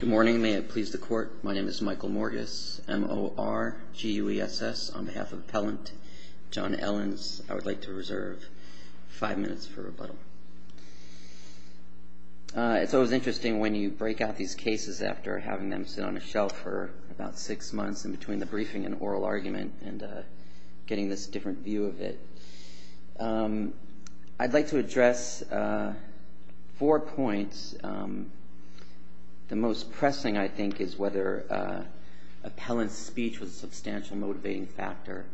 Good morning. May it please the court. My name is Michael Morgus, M-O-R-G-U-E-S-S, on behalf of Appellant John Ellins. I would like to reserve five minutes for rebuttal. It's always interesting when you break out these cases after having them sit on a shelf for about six months in between the briefing and oral argument and getting this different view of it. I'd like to address four points. The most pressing, I think, is whether Appellant's speech was a substantial motivating factor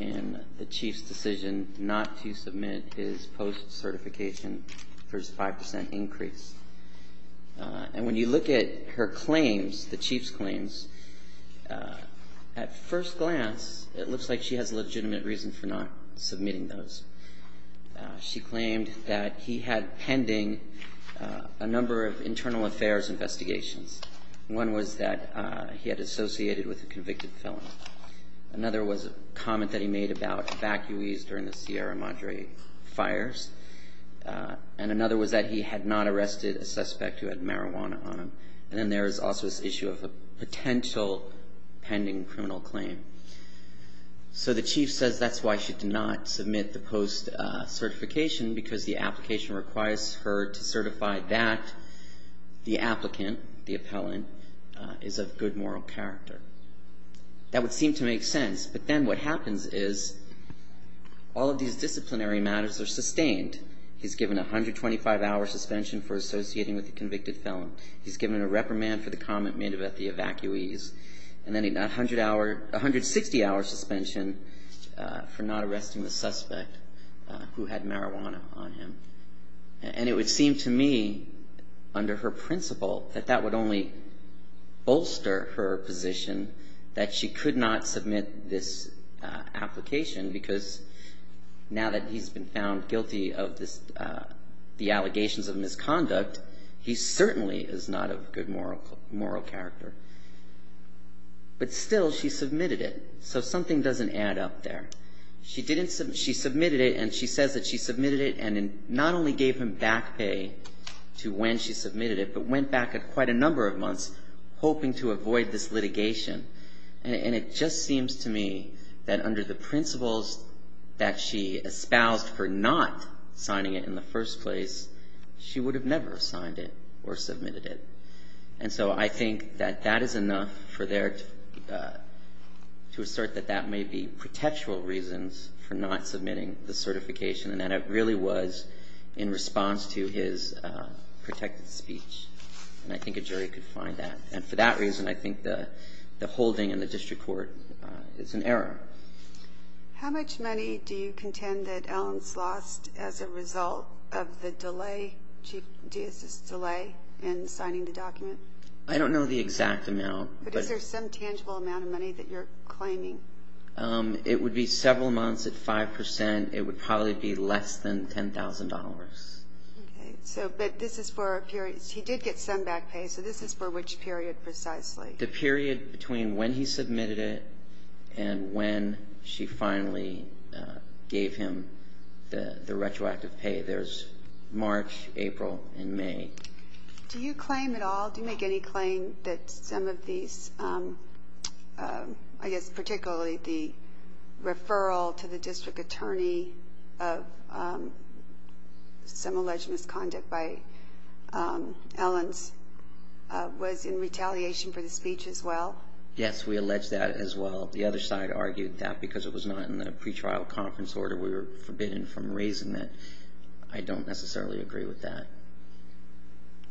in the Chief's decision not to submit his post-certification for his 5% increase. And when you look at her claims, the Chief's claims, at first glance it looks like she has a legitimate reason for not submitting those. She claimed that he had pending a number of internal affairs investigations. One was that he had associated with a convicted felon. Another was a comment that he made about evacuees during the Sierra Madre fires. And another was that he had not arrested a suspect who had marijuana on him. And then there is also this issue of a potential pending criminal claim. So the Chief says that's why she did not submit the post-certification because the application requires her to certify that the applicant, the appellant, is of good moral character. That would seem to make sense. But then what happens is all of these disciplinary matters are sustained. He's given a 125-hour suspension for associating with a convicted felon. He's given a reprimand for the comment made about the evacuees. And then a 160-hour suspension for not arresting the suspect who had marijuana on him. And it would seem to me, under her principle, that that would only bolster her position that she could not submit this application because now that he's been found guilty of the allegations of misconduct, he certainly is not of good moral character. But still, she submitted it. So something doesn't add up there. She submitted it, and she says that she submitted it and not only gave him back pay to when she submitted it, but went back quite a number of months hoping to avoid this litigation. And it just seems to me that under the principles that she espoused for not signing it in the first place, she would have never signed it or submitted it. And so I think that that is enough for there to assert that that may be protectual reasons for not submitting the certification and that it really was in response to his protected speech. And I think a jury could find that. And for that reason, I think the holding in the district court is an error. How much money do you contend that Allen's lost as a result of the delay, Chief Deist's delay in signing the document? I don't know the exact amount. But is there some tangible amount of money that you're claiming? It would be several months at 5%. It would probably be less than $10,000. Okay. So, but this is for a period. He did get some back pay. So this is for which period precisely? The period between when he submitted it and when she finally gave him the retroactive pay. There's March, April, and May. Do you claim at all, do you make any claim that some of these, I guess particularly the referral to the district attorney of some alleged misconduct by Allen's was in retaliation for the speech as well? Yes, we allege that as well. The other side argued that because it was not in the pretrial conference order. We were forbidden from raising that. I don't necessarily agree with that.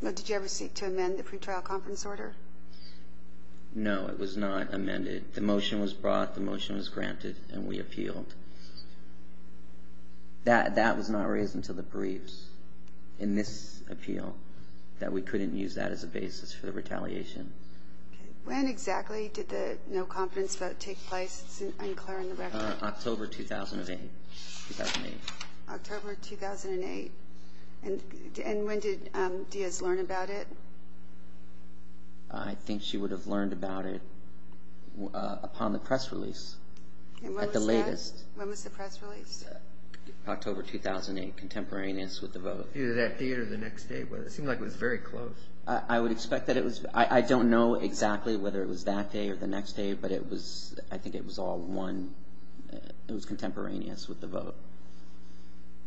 Did you ever seek to amend the pretrial conference order? No, it was not amended. The motion was brought, the motion was granted, and we appealed. That was not raised until the briefs in this appeal, that we couldn't use that as a basis for the retaliation. When exactly did the no conference vote take place? It's unclear on the record. October 2008. October 2008? And when did Diaz learn about it? I think she would have learned about it upon the press release, at the latest. When was the press release? October 2008, contemporaneous with the vote. Either that day or the next day, but it seemed like it was very close. I would expect that it was, I don't know exactly whether it was that day or the next day, but it was, I think it was all one, it was contemporaneous with the vote.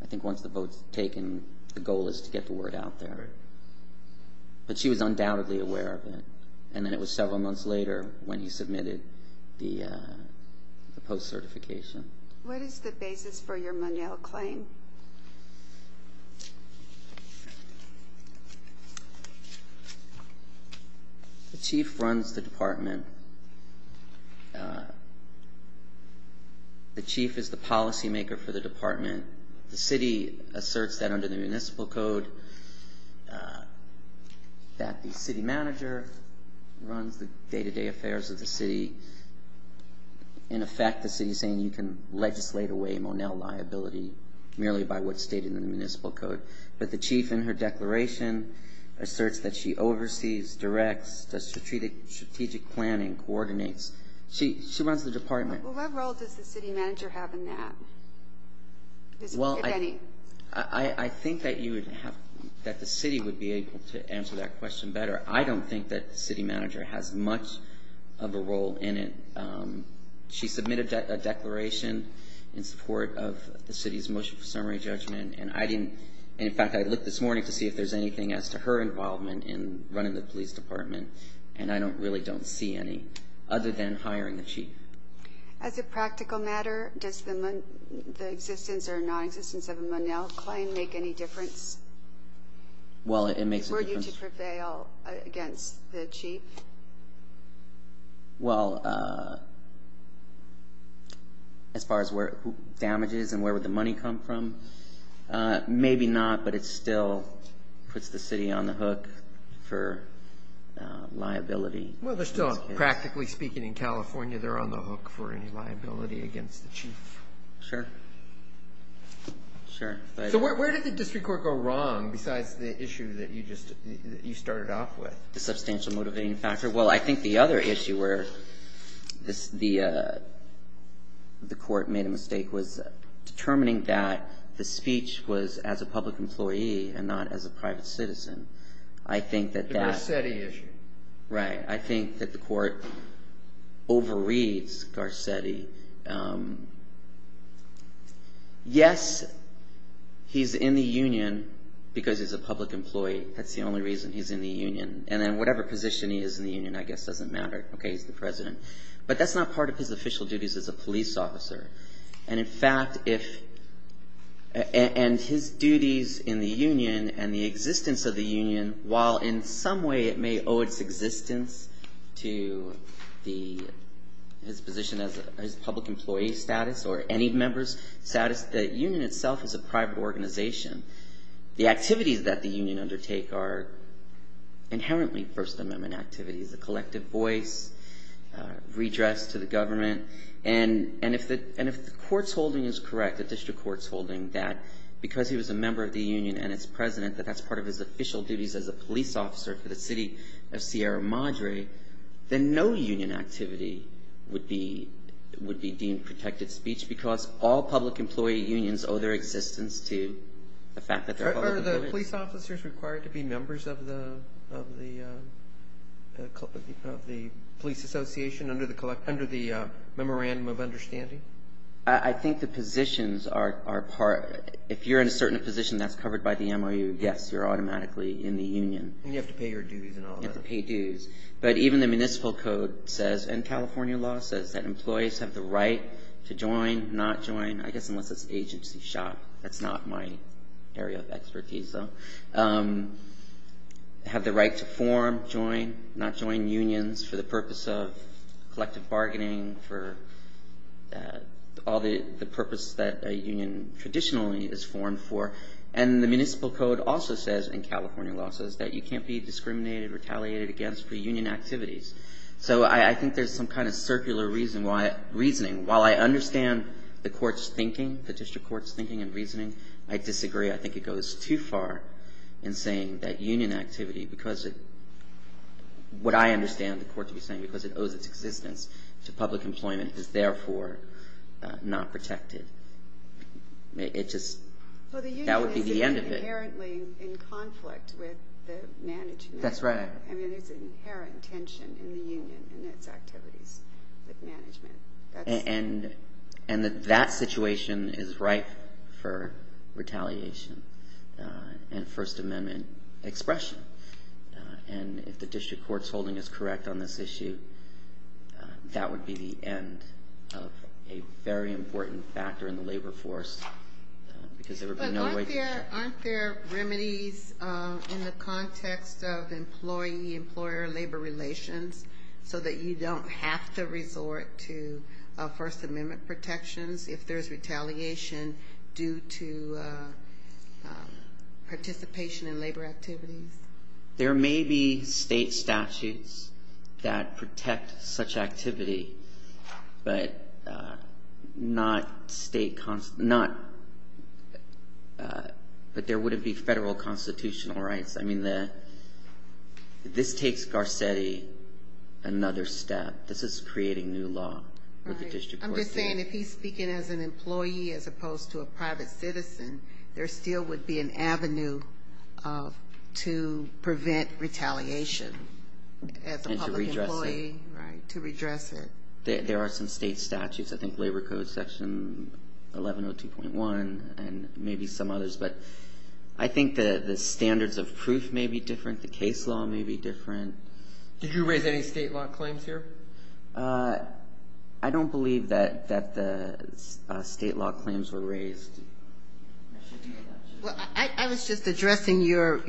I think once the vote's taken, the goal is to get the word out there. But she was undoubtedly aware of it, and then it was several months later when he submitted the post-certification. What is the basis for your Monell claim? The chief runs the department. The chief is the policymaker for the department. The city asserts that under the municipal code, that the city manager runs the day-to-day affairs of the city. In effect, the city's saying you can legislate away Monell liability merely by what's stated in the municipal code. But the chief in her declaration asserts that she oversees, directs, does strategic planning, coordinates. She runs the department. What role does the city manager have in that? I think that the city would be able to answer that question better. I don't think that the city manager has much of a role in it. She submitted a declaration in support of the city's motion for summary judgment, and I didn't, in fact, I looked this morning to see if there's anything as to her involvement in running the police department, and I really don't see any other than hiring the chief. As a practical matter, does the existence or non-existence of a Monell claim make any difference? Well, it makes a difference. Were you to prevail against the chief? Well, as far as where, who damages and where would the money come from, maybe not, but it still puts the city on the hook for liability. Well, they're still, practically speaking, in California, they're on the hook for any liability against the chief. Sure. Sure. So where did the district court go wrong besides the issue that you started off with? The substantial motivating factor? Well, I think the other issue where the court made a mistake was determining that the speech was as a public employee and not as a private citizen. The Garcetti issue. I think that the court overreads Garcetti. Yes, he's in the union because he's a public employee. That's the only reason he's in the union. And then whatever position he is in the union, I guess, doesn't matter. Okay, he's the president. But that's not part of his official duties as a police officer. And in fact, if, and his duties in the union and the existence of the union, while in some way it may owe its existence to his position as public employee status or any member's status, the union itself is a private organization. The activities that the union undertake are inherently First Amendment activities. The collective voice, redress to the government. And if the court's holding is correct, the district court's holding that because he was a member of the union and its president, that that's part of his official duties as a police officer for the city of Sierra Madre, then no union activity would be deemed protected speech because all public employee unions owe their existence to the fact that they're public employees. Are the police officers required to be members of the police association under the Memorandum of Understanding? I think the positions are part. If you're in a certain position that's covered by the MOU, yes, you're automatically in the union. And you have to pay your dues and all that. You have to pay dues. But even the municipal code says, and California law says, that employees have the right to join, not join, I guess unless it's agency shop. That's not my area of expertise, though. Have the right to form, join, not join unions for the purpose of collective bargaining, for all the purpose that a union traditionally is formed for. And the municipal code also says, and California law says, that you can't be discriminated, retaliated against for union activities. So I think there's some kind of circular reasoning. While I understand the court's thinking, the district court's thinking and reasoning, I disagree. I think it goes too far in saying that union activity, because of what I understand the court to be saying, because it owes its existence to public employment, is therefore not protected. It just, that would be the end of it. Well, the union is inherently in conflict with the management. That's right. I mean, there's an inherent tension in the union and its activities with management. And that situation is ripe for retaliation and First Amendment expression. And if the district court's holding us correct on this issue, that would be the end of a very important factor in the labor force. But aren't there remedies in the context of employee-employer labor relations, so that you don't have to resort to First Amendment protections if there's retaliation due to participation in labor activities? There may be state statutes that protect such activity, but not state, but there wouldn't be federal constitutional rights. I mean, this takes Garcetti another step. This is creating new law with the district court. I'm just saying, if he's speaking as an employee as opposed to a private citizen, there still would be an avenue to prevent retaliation as a public employee. And to redress it. Right, to redress it. There are some state statutes. I think Labor Code Section 1102.1 and maybe some others. But I think the standards of proof may be different. The case law may be different. Did you raise any state law claims here? I don't believe that the state law claims were raised. I was just addressing your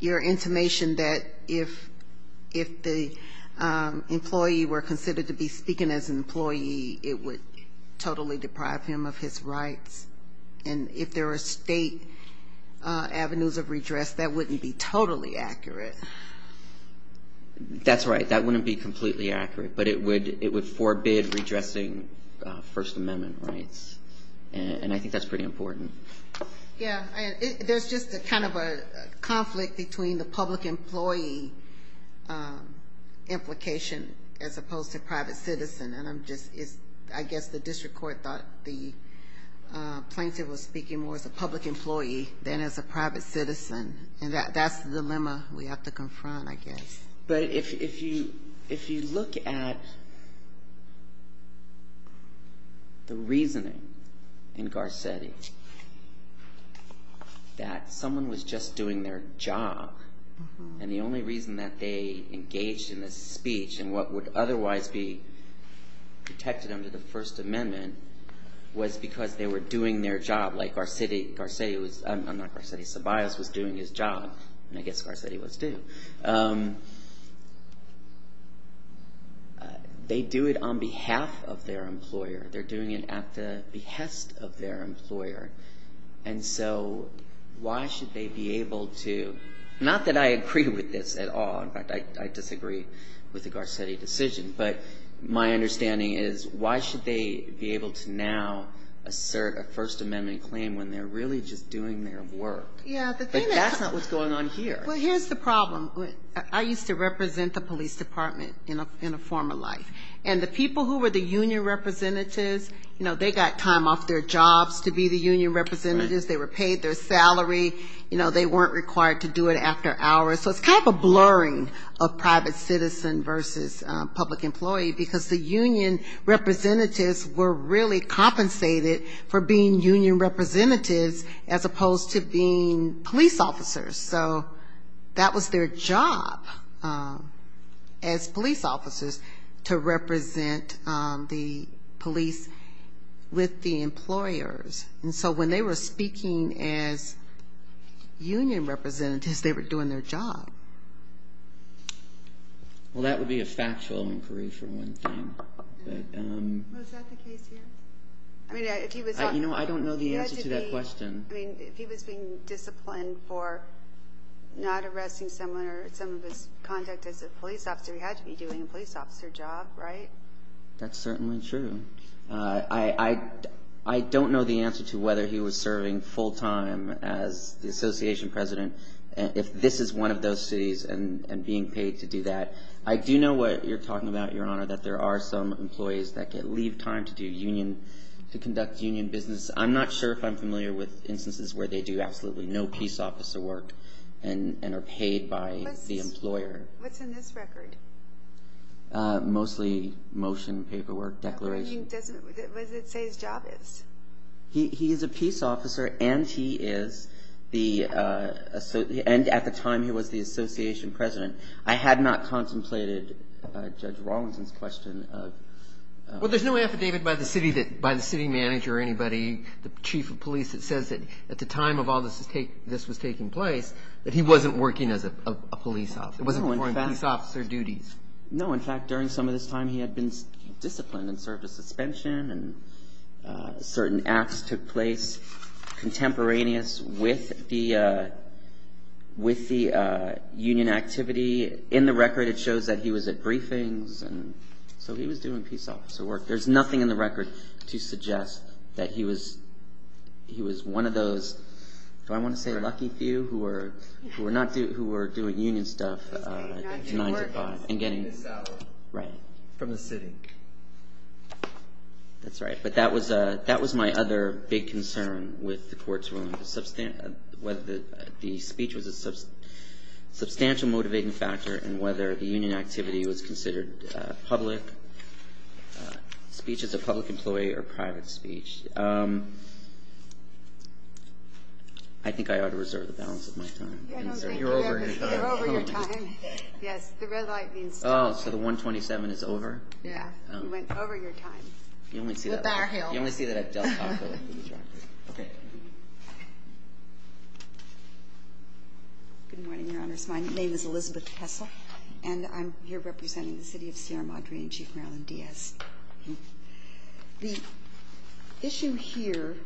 intimation that if the employee were considered to be speaking as an employee, it would totally deprive him of his rights. And if there are state avenues of redress, that wouldn't be totally accurate. That's right. That wouldn't be completely accurate, but it would forbid redressing First Amendment rights. And I think that's pretty important. Yeah. There's just kind of a conflict between the public employee implication as opposed to private citizen. And I guess the district court thought the plaintiff was speaking more as a public employee than as a private citizen. And that's the dilemma we have to confront, I guess. But if you look at the reasoning in Garcetti that someone was just doing their job, and the only reason that they engaged in this speech and what would otherwise be protected under the First Amendment was because they were doing their job, like Garcetti was doing his job. And I guess Garcetti was, too. They do it on behalf of their employer. They're doing it at the behest of their employer. And so why should they be able to – not that I agree with this at all. In fact, I disagree with the Garcetti decision. But my understanding is why should they be able to now assert a First Amendment claim when they're really just doing their work? But that's not what's going on here. Well, here's the problem. I used to represent the police department in a former life. And the people who were the union representatives, you know, they got time off their jobs to be the union representatives. They were paid their salary. You know, they weren't required to do it after hours. So it's kind of a blurring of private citizen versus public employee, because the union representatives were really compensated for being union representatives as opposed to being police officers. So that was their job as police officers to represent the police with the employers. And so when they were speaking as union representatives, they were doing their job. Well, that would be a factual inquiry for one thing. Was that the case here? You know, I don't know the answer to that question. I mean, if he was being disciplined for not arresting someone or some of his conduct as a police officer, he had to be doing a police officer job, right? That's certainly true. I don't know the answer to whether he was serving full time as the association president. If this is one of those cities and being paid to do that. I do know what you're talking about, Your Honor, that there are some employees that leave time to conduct union business. I'm not sure if I'm familiar with instances where they do absolutely no peace officer work and are paid by the employer. What's in this record? Mostly motion, paperwork, declaration. What does it say his job is? He is a peace officer and he is the associate. And at the time he was the association president. I had not contemplated Judge Rawlinson's question. Well, there's no affidavit by the city manager or anybody, the chief of police, that says that at the time of all this was taking place that he wasn't working as a police officer. He wasn't performing peace officer duties. No, in fact, during some of this time he had been disciplined and served a suspension and certain acts took place contemporaneous with the union activity. In the record it shows that he was at briefings. So he was doing peace officer work. There's nothing in the record to suggest that he was one of those, do I want to say lucky few, who were doing union stuff and getting salary from the city. That's right. But that was my other big concern with the court's ruling, whether the speech was a substantial motivating factor and whether the union activity was considered public, speech as a public employee or private speech. I think I ought to reserve the balance of my time. You're over your time. Yes, the red light means time. Oh, so the 127 is over? Yeah, you went over your time. Okay. Good morning, Your Honors. My name is Elizabeth Kessel, and I'm here representing the city of Sierra Madre and Chief Marilyn Diaz. The issue here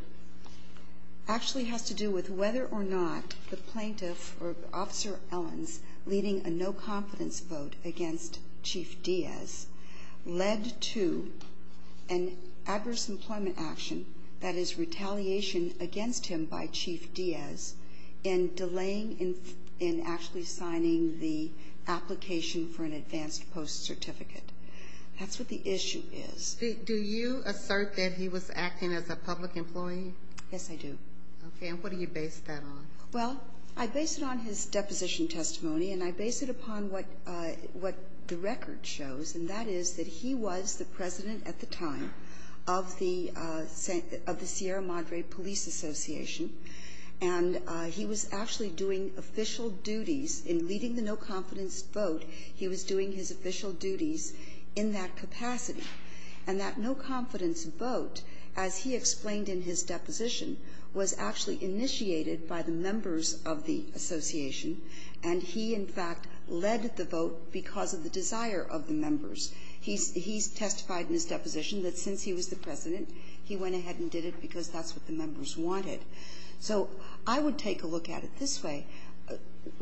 actually has to do with whether or not the plaintiff, or Officer Ellens, leading a no-confidence vote against Chief Diaz led to an adverse employment action, that is retaliation against him by Chief Diaz, in delaying in actually signing the application for an advanced post certificate. That's what the issue is. Do you assert that he was acting as a public employee? Yes, I do. Okay. And what do you base that on? Well, I base it on his deposition testimony, and I base it upon what the record shows, and that is that he was the president at the time of the Sierra Madre Police Association, and he was actually doing official duties. In leading the no-confidence vote, he was doing his official duties in that capacity. And that no-confidence vote, as he explained in his deposition, was actually initiated by the members of the association, and he, in fact, led the vote because of the desire of the members. He testified in his deposition that since he was the president, he went ahead and did it because that's what the members wanted. So I would take a look at it this way.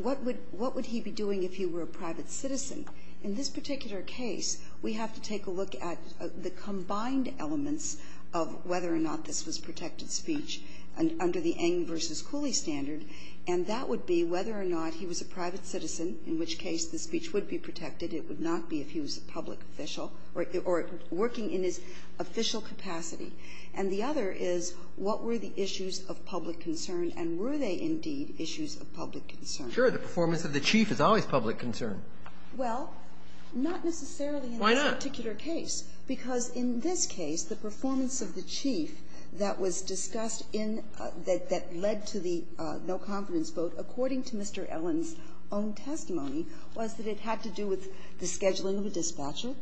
What would he be doing if he were a private citizen? In this particular case, we have to take a look at the combined elements of whether or not this was protected speech under the Eng v. Cooley standard, and that would be whether or not he was a private citizen, in which case the speech would be protected. It would not be if he was a public official or working in his official capacity. And the other is, what were the issues of public concern, and were they indeed issues of public concern? Roberts. Sure. The performance of the chief is always public concern. Well, not necessarily in this particular case. Why not? Because in this case, the performance of the chief that was discussed in the – that led to the no-confidence vote, according to Mr. Ellen's own testimony, was that it had to do with the scheduling of a dispatcher.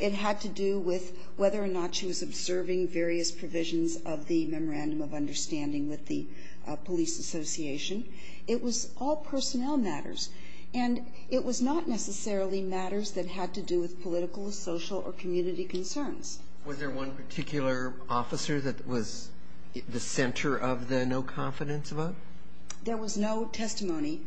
It had to do with whether or not she was observing various provisions of the Memorandum of Understanding with the police association. It was all personnel matters, and it was not necessarily matters that had to do with political, social, or community concerns. Was there one particular officer that was the center of the no-confidence vote? There was no testimony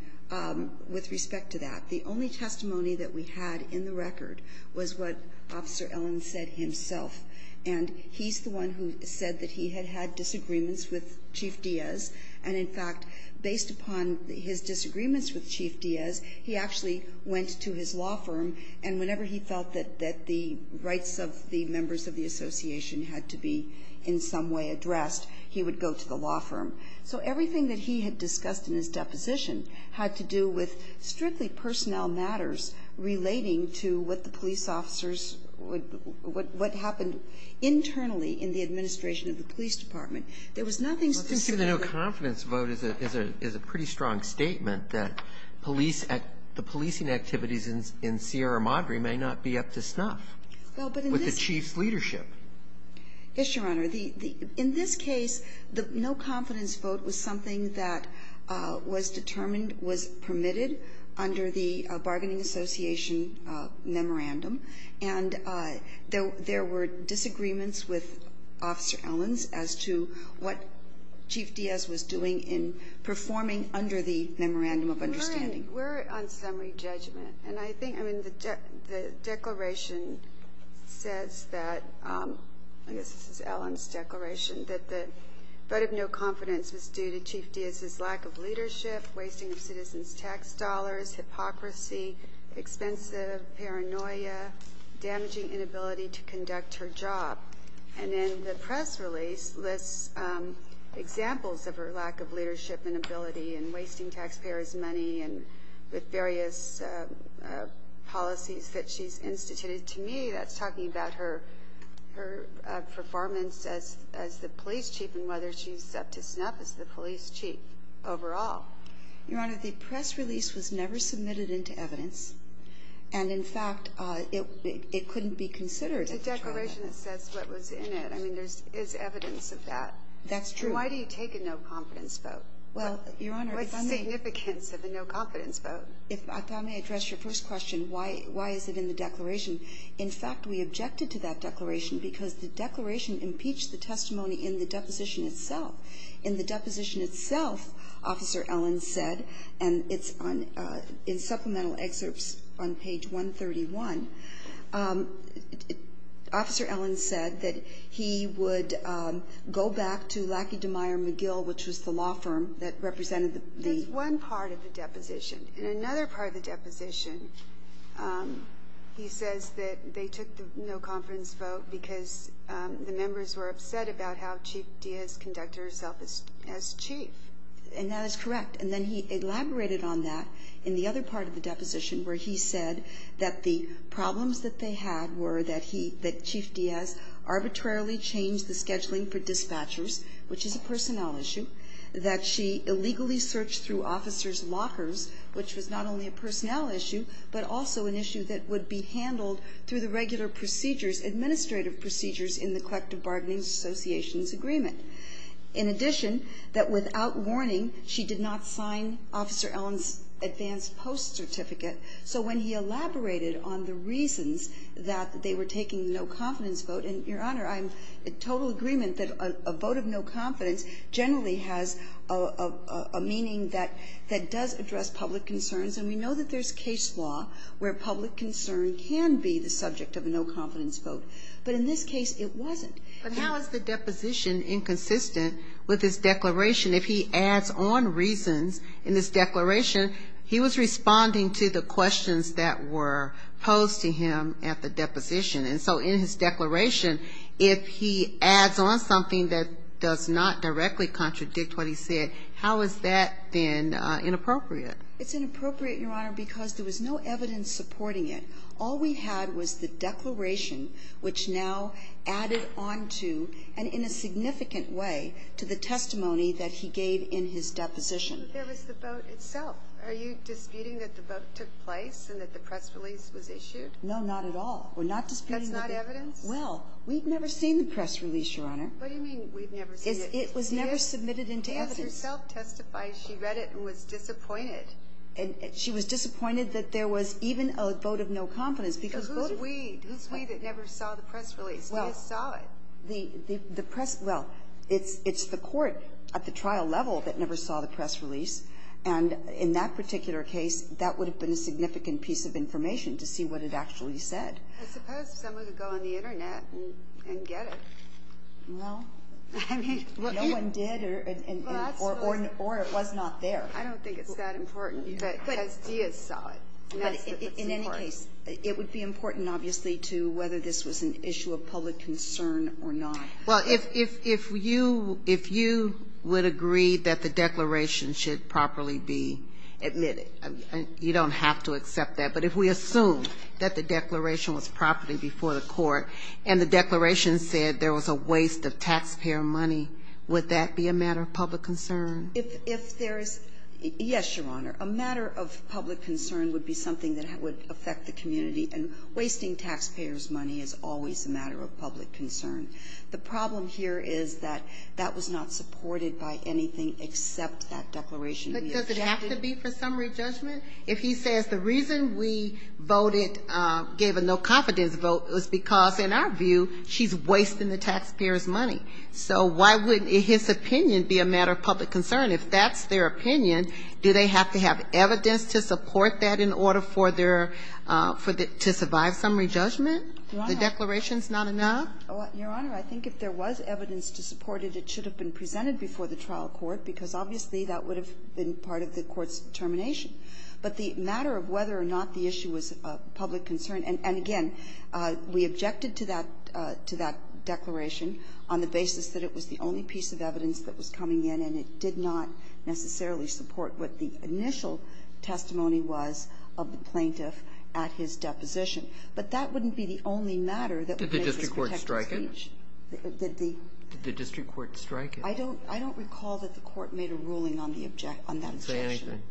with respect to that. The only testimony that we had in the record was what Officer Ellen said himself. And he's the one who said that he had had disagreements with Chief Diaz, and in fact, based upon his disagreements with Chief Diaz, he actually went to his law firm, and whenever he felt that the rights of the members of the association had to be in some way addressed, he would go to the law firm. So everything that he had discussed in his deposition had to do with strictly personnel matters relating to what the police officers would – what happened internally in the administration of the police department. There was nothing specific. Well, I think the no-confidence vote is a pretty strong statement that police – the policing activities in Sierra Madre may not be up to snuff with the chief's leadership. Yes, Your Honor. In this case, the no-confidence vote was something that was determined, was permitted under the bargaining association memorandum, and there were disagreements with Officer Ellen as to what Chief Diaz was doing in performing under the memorandum of understanding. We're on summary judgment. And I think – I mean, the declaration says that – I guess this is Ellen's declaration – that the vote of no confidence was due to Chief Diaz's lack of citizens' tax dollars, hypocrisy, expensive paranoia, damaging inability to conduct her job. And then the press release lists examples of her lack of leadership and ability and wasting taxpayers' money with various policies that she's instituted. To me, that's talking about her performance as the police chief and whether she's up to snuff as the police chief overall. Your Honor, the press release was never submitted into evidence. And, in fact, it couldn't be considered. The declaration says what was in it. I mean, there is evidence of that. That's true. Why do you take a no-confidence vote? Well, Your Honor, if I may – What's the significance of a no-confidence vote? If I may address your first question, why is it in the declaration? In fact, we objected to that declaration because the declaration impeached the testimony in the deposition itself. In the deposition itself, Officer Ellen said, and it's in supplemental excerpts on page 131, Officer Ellen said that he would go back to Lackey, DeMeyer, McGill, which was the law firm that represented the – There's one part of the deposition. In another part of the deposition, he says that they took the no-confidence vote because the members were upset about how Chief Diaz conducted herself as chief. And that is correct. And then he elaborated on that in the other part of the deposition where he said that the problems that they had were that Chief Diaz arbitrarily changed the scheduling for dispatchers, which is a personnel issue, that she illegally searched through officers' lockers, which was not only a personnel issue but also an issue that would be handled through the regular procedures, administrative procedures in the Collective Bargaining Associations Agreement. In addition, that without warning, she did not sign Officer Ellen's advanced post certificate. So when he elaborated on the reasons that they were taking the no-confidence vote, and, Your Honor, I'm in total agreement that a vote of no confidence generally has a meaning that does address public concerns, and we know that there's case law where public concern can be the subject of a no-confidence vote. But in this case, it wasn't. But how is the deposition inconsistent with his declaration? If he adds on reasons in his declaration, he was responding to the questions that were posed to him at the deposition. And so in his declaration, if he adds on something that does not directly contradict what he said, how is that then inappropriate? It's inappropriate, Your Honor, because there was no evidence supporting it. All we had was the declaration, which now added on to, and in a significant way, to the testimony that he gave in his deposition. But there was the vote itself. Are you disputing that the vote took place and that the press release was issued? No, not at all. We're not disputing that. That's not evidence? Well, we've never seen the press release, Your Honor. What do you mean, we've never seen it? It was never submitted into evidence. But you yourself testified she read it and was disappointed. She was disappointed that there was even a vote of no confidence, because vote of no confidence. Who's we? Who's we that never saw the press release? We just saw it. The press, well, it's the court at the trial level that never saw the press release. And in that particular case, that would have been a significant piece of information to see what it actually said. I suppose someone could go on the Internet and get it. Well, no one did. Or it was not there. I don't think it's that important. But Diaz saw it. In any case, it would be important, obviously, to whether this was an issue of public concern or not. Well, if you would agree that the declaration should properly be admitted, you don't have to accept that. But if we assume that the declaration was properly before the court and the declaration said there was a waste of taxpayer money, would that be a matter of public concern? If there is, yes, Your Honor. A matter of public concern would be something that would affect the community. And wasting taxpayers' money is always a matter of public concern. The problem here is that that was not supported by anything except that declaration. But does it have to be for summary judgment? If he says the reason we voted, gave a no confidence vote, was because, in our view, she's wasting the taxpayers' money. So why wouldn't his opinion be a matter of public concern? If that's their opinion, do they have to have evidence to support that in order for their to survive summary judgment? Your Honor. The declaration's not enough? Your Honor, I think if there was evidence to support it, it should have been presented before the trial court, because obviously that would have been part of the court's determination. But the matter of whether or not the issue was a public concern, and again, we objected to that declaration on the basis that it was the only piece of evidence that was coming in, and it did not necessarily support what the initial testimony was of the plaintiff at his deposition. But that wouldn't be the only matter that would make this protected speech. Did the district court strike it? Did the district court strike it? I don't recall that the court made a ruling on that objection. Say anything.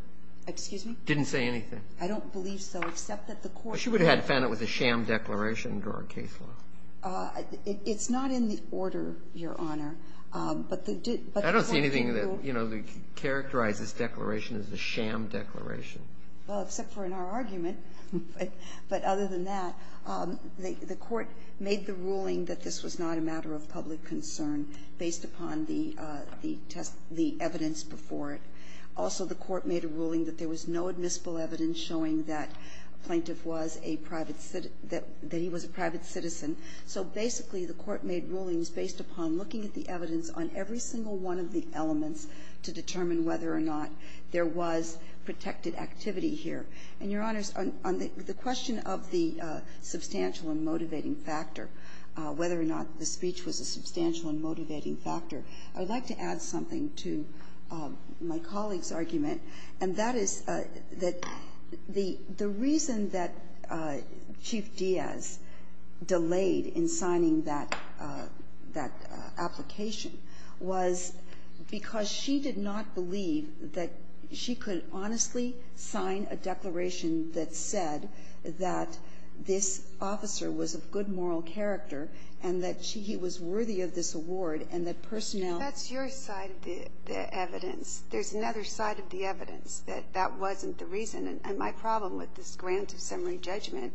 Excuse me? Didn't say anything. I don't believe so, except that the court did. Well, she would have had to have found it was a sham declaration under our case law. It's not in the order, Your Honor. I don't see anything that, you know, characterizes this declaration as a sham declaration. Well, except for in our argument. But other than that, the court made the ruling that this was not a matter of public concern based upon the test the evidence before it. Also, the court made a ruling that there was no admissible evidence showing that a plaintiff was a private citizen, that he was a private citizen. So basically, the court made rulings based upon looking at the evidence on every single one of the elements to determine whether or not there was protected activity here. And, Your Honors, on the question of the substantial and motivating factor, whether or not the speech was a substantial and motivating factor, I would like to add something to my colleague's argument. And that is that the reason that Chief Diaz delayed in signing that application was because she did not believe that she could honestly sign a declaration that said that this officer was of good moral character and that he was worthy of this award and that personnel ---- The evidence. There's another side of the evidence, that that wasn't the reason. And my problem with this grant of summary judgment,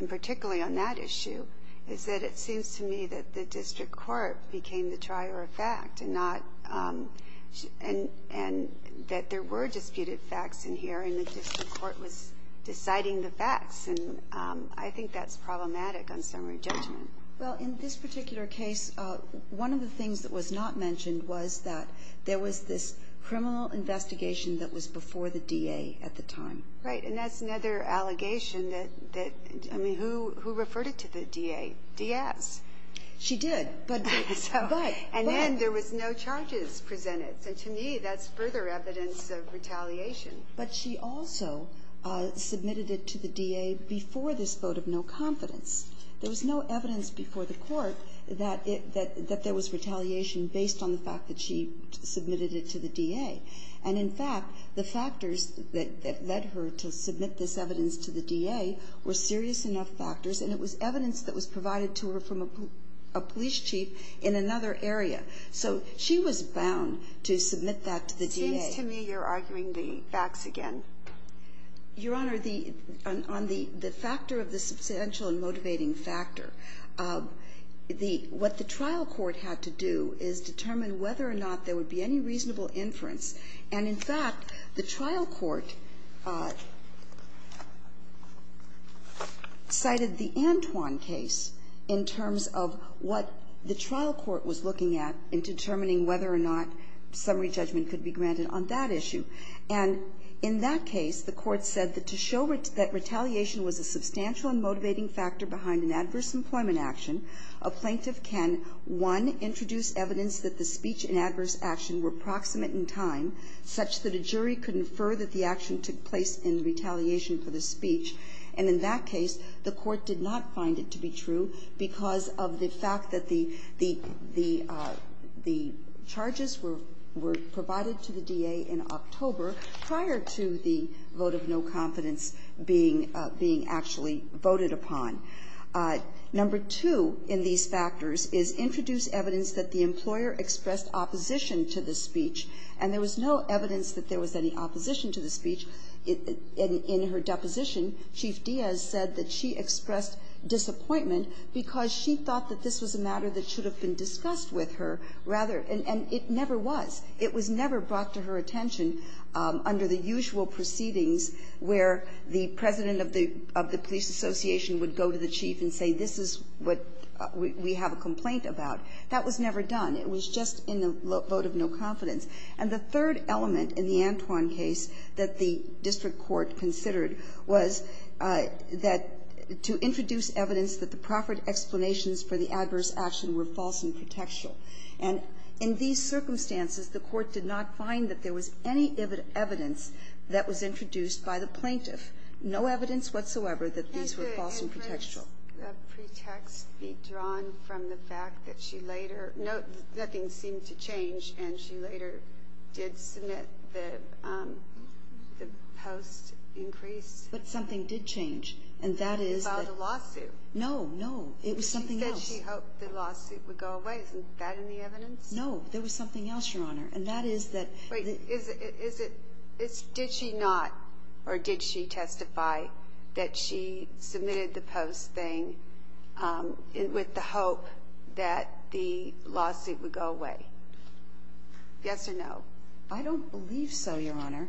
and particularly on that issue, is that it seems to me that the district court became the trier of fact and not ---- And that there were disputed facts in here, and the district court was deciding the facts. And I think that's problematic on summary judgment. Well, in this particular case, one of the things that was not mentioned was that there was this criminal investigation that was before the DA at the time. Right. And that's another allegation that ---- I mean, who referred it to the DA? Diaz. She did. But ---- And then there was no charges presented. So, to me, that's further evidence of retaliation. But she also submitted it to the DA before this vote of no confidence. There was no evidence before the court that there was retaliation based on the fact that she submitted it to the DA. And, in fact, the factors that led her to submit this evidence to the DA were serious enough factors, and it was evidence that was provided to her from a police chief in another area. So she was bound to submit that to the DA. It seems to me you're arguing the facts again. Your Honor, on the factor of the substantial and motivating factor, what the trial court had to do is determine whether or not there would be any reasonable inference. And, in fact, the trial court cited the Antoine case in terms of what the trial court was looking at in determining whether or not summary judgment could be granted on that issue. And in that case, the court said that to show that retaliation was a substantial and motivating factor behind an adverse employment action, a plaintiff can, one, introduce evidence that the speech and adverse action were proximate in time, such that a jury could infer that the action took place in retaliation for the speech. And in that case, the court did not find it to be true because of the fact that the charges were provided to the DA in October prior to the vote of no confidence being actually voted upon. Number two in these factors is introduce evidence that the employer expressed opposition to the speech, and there was no evidence that there was any opposition to the speech. In her deposition, Chief Diaz said that she expressed disappointment because she thought that this was a matter that should have been discussed with her rather and it never was. It was never brought to her attention under the usual proceedings where the president of the police association would go to the chief and say this is what we have a complaint about. That was never done. It was just in the vote of no confidence. And the third element in the Antoine case that the district court considered was that to introduce evidence that the proffered explanations for the adverse action were false and pretextual. And in these circumstances, the court did not find that there was any evidence that was introduced by the plaintiff, no evidence whatsoever that these were false and pretextual. The pretext be drawn from the fact that she later no, nothing seemed to change and she later did submit the post increase. But something did change. And that is the lawsuit. No, no. It was something else. She hoped the lawsuit would go away. Isn't that in the evidence? No. There was something else, Your Honor. And that is that. Wait. Is it. Did she not or did she testify that she submitted the post thing with the hope that the lawsuit would go away? Yes or no. I don't believe so, Your Honor.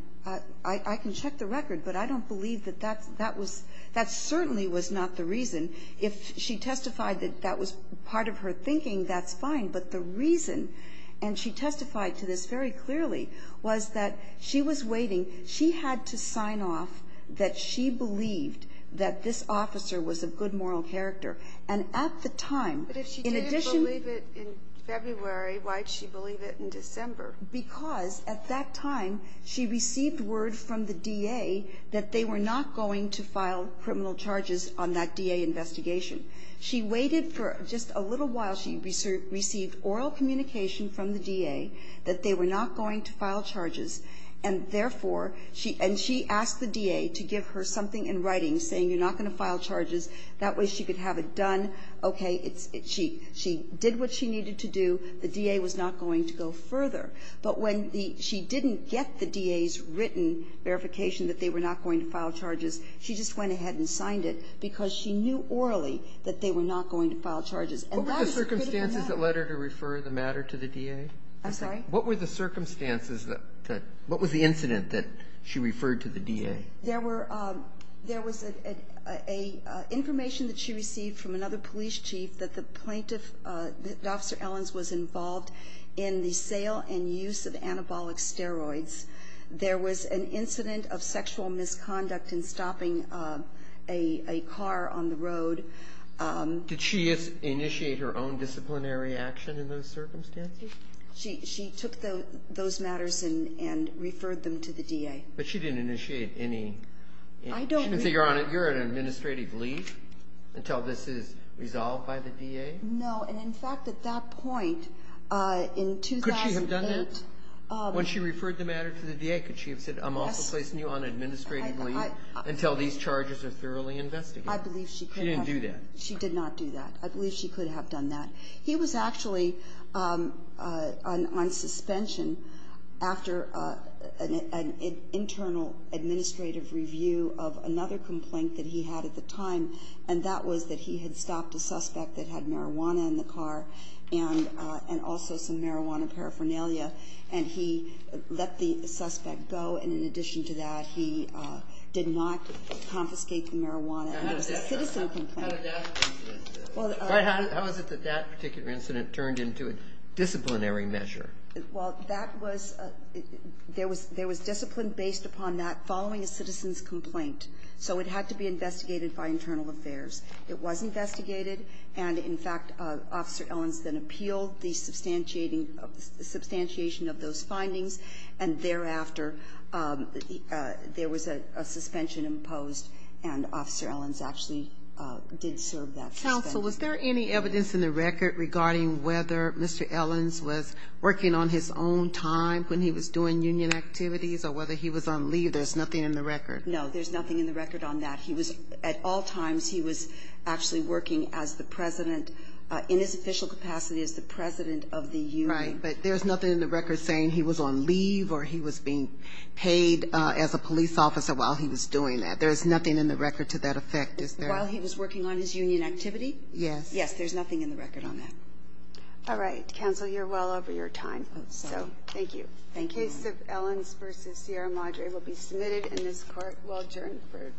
I can check the record, but I don't believe that that was. That certainly was not the reason. If she testified that that was part of her thinking, that's fine. But the reason, and she testified to this very clearly, was that she was waiting. She had to sign off that she believed that this officer was of good moral character. And at the time, in addition. But if she didn't believe it in February, why did she believe it in December? Because at that time, she received word from the DA that they were not going to file criminal charges on that DA investigation. She waited for just a little while. She received oral communication from the DA that they were not going to file charges. And therefore, and she asked the DA to give her something in writing saying you're not going to file charges. That way she could have it done. Okay. She did what she needed to do. The DA was not going to go further. But when she didn't get the DA's written verification that they were not going to file charges, she just went ahead and signed it. Because she knew orally that they were not going to file charges. And that is a critical matter. What were the circumstances that led her to refer the matter to the DA? I'm sorry? What were the circumstances that, what was the incident that she referred to the DA? There were, there was a information that she received from another police chief that the plaintiff, that Officer Ellens was involved in the sale and use of anabolic steroids. There was an incident of sexual misconduct in stopping a car on the road. Did she initiate her own disciplinary action in those circumstances? She took those matters and referred them to the DA. But she didn't initiate any. I don't. She didn't say you're on an administrative leave until this is resolved by the DA? No. And, in fact, at that point in 2008. Could she have done that? When she referred the matter to the DA, could she have said, I'm also placing you on administrative leave until these charges are thoroughly investigated? I believe she could have. She didn't do that? She did not do that. I believe she could have done that. He was actually on suspension after an internal administrative review of another complaint that he had at the time, and that was that he had stopped a suspect that had marijuana in the car and also some marijuana paraphernalia, and he let the suspect go. And in addition to that, he did not confiscate the marijuana. And it was a citizen complaint. How did that turn into an incident? How is it that that particular incident turned into a disciplinary measure? Well, that was there was discipline based upon that following a citizen's complaint. So it had to be investigated by internal affairs. It was investigated. And, in fact, Officer Ellins then appealed the substantiating of the substantiation of those findings, and thereafter, there was a suspension imposed, and Officer Ellins actually did serve that suspension. Counsel, was there any evidence in the record regarding whether Mr. Ellins was working on his own time when he was doing union activities or whether he was on leave? There's nothing in the record. There's nothing in the record on that. At all times, he was actually working as the president in his official capacity as the president of the union. Right, but there's nothing in the record saying he was on leave or he was being paid as a police officer while he was doing that. There's nothing in the record to that effect. While he was working on his union activity? Yes. Yes, there's nothing in the record on that. All right. Counsel, you're well over your time. So thank you. Thank you. The case of Ellins v. Sierra Madre will be submitted in this court. We'll adjourn for this session.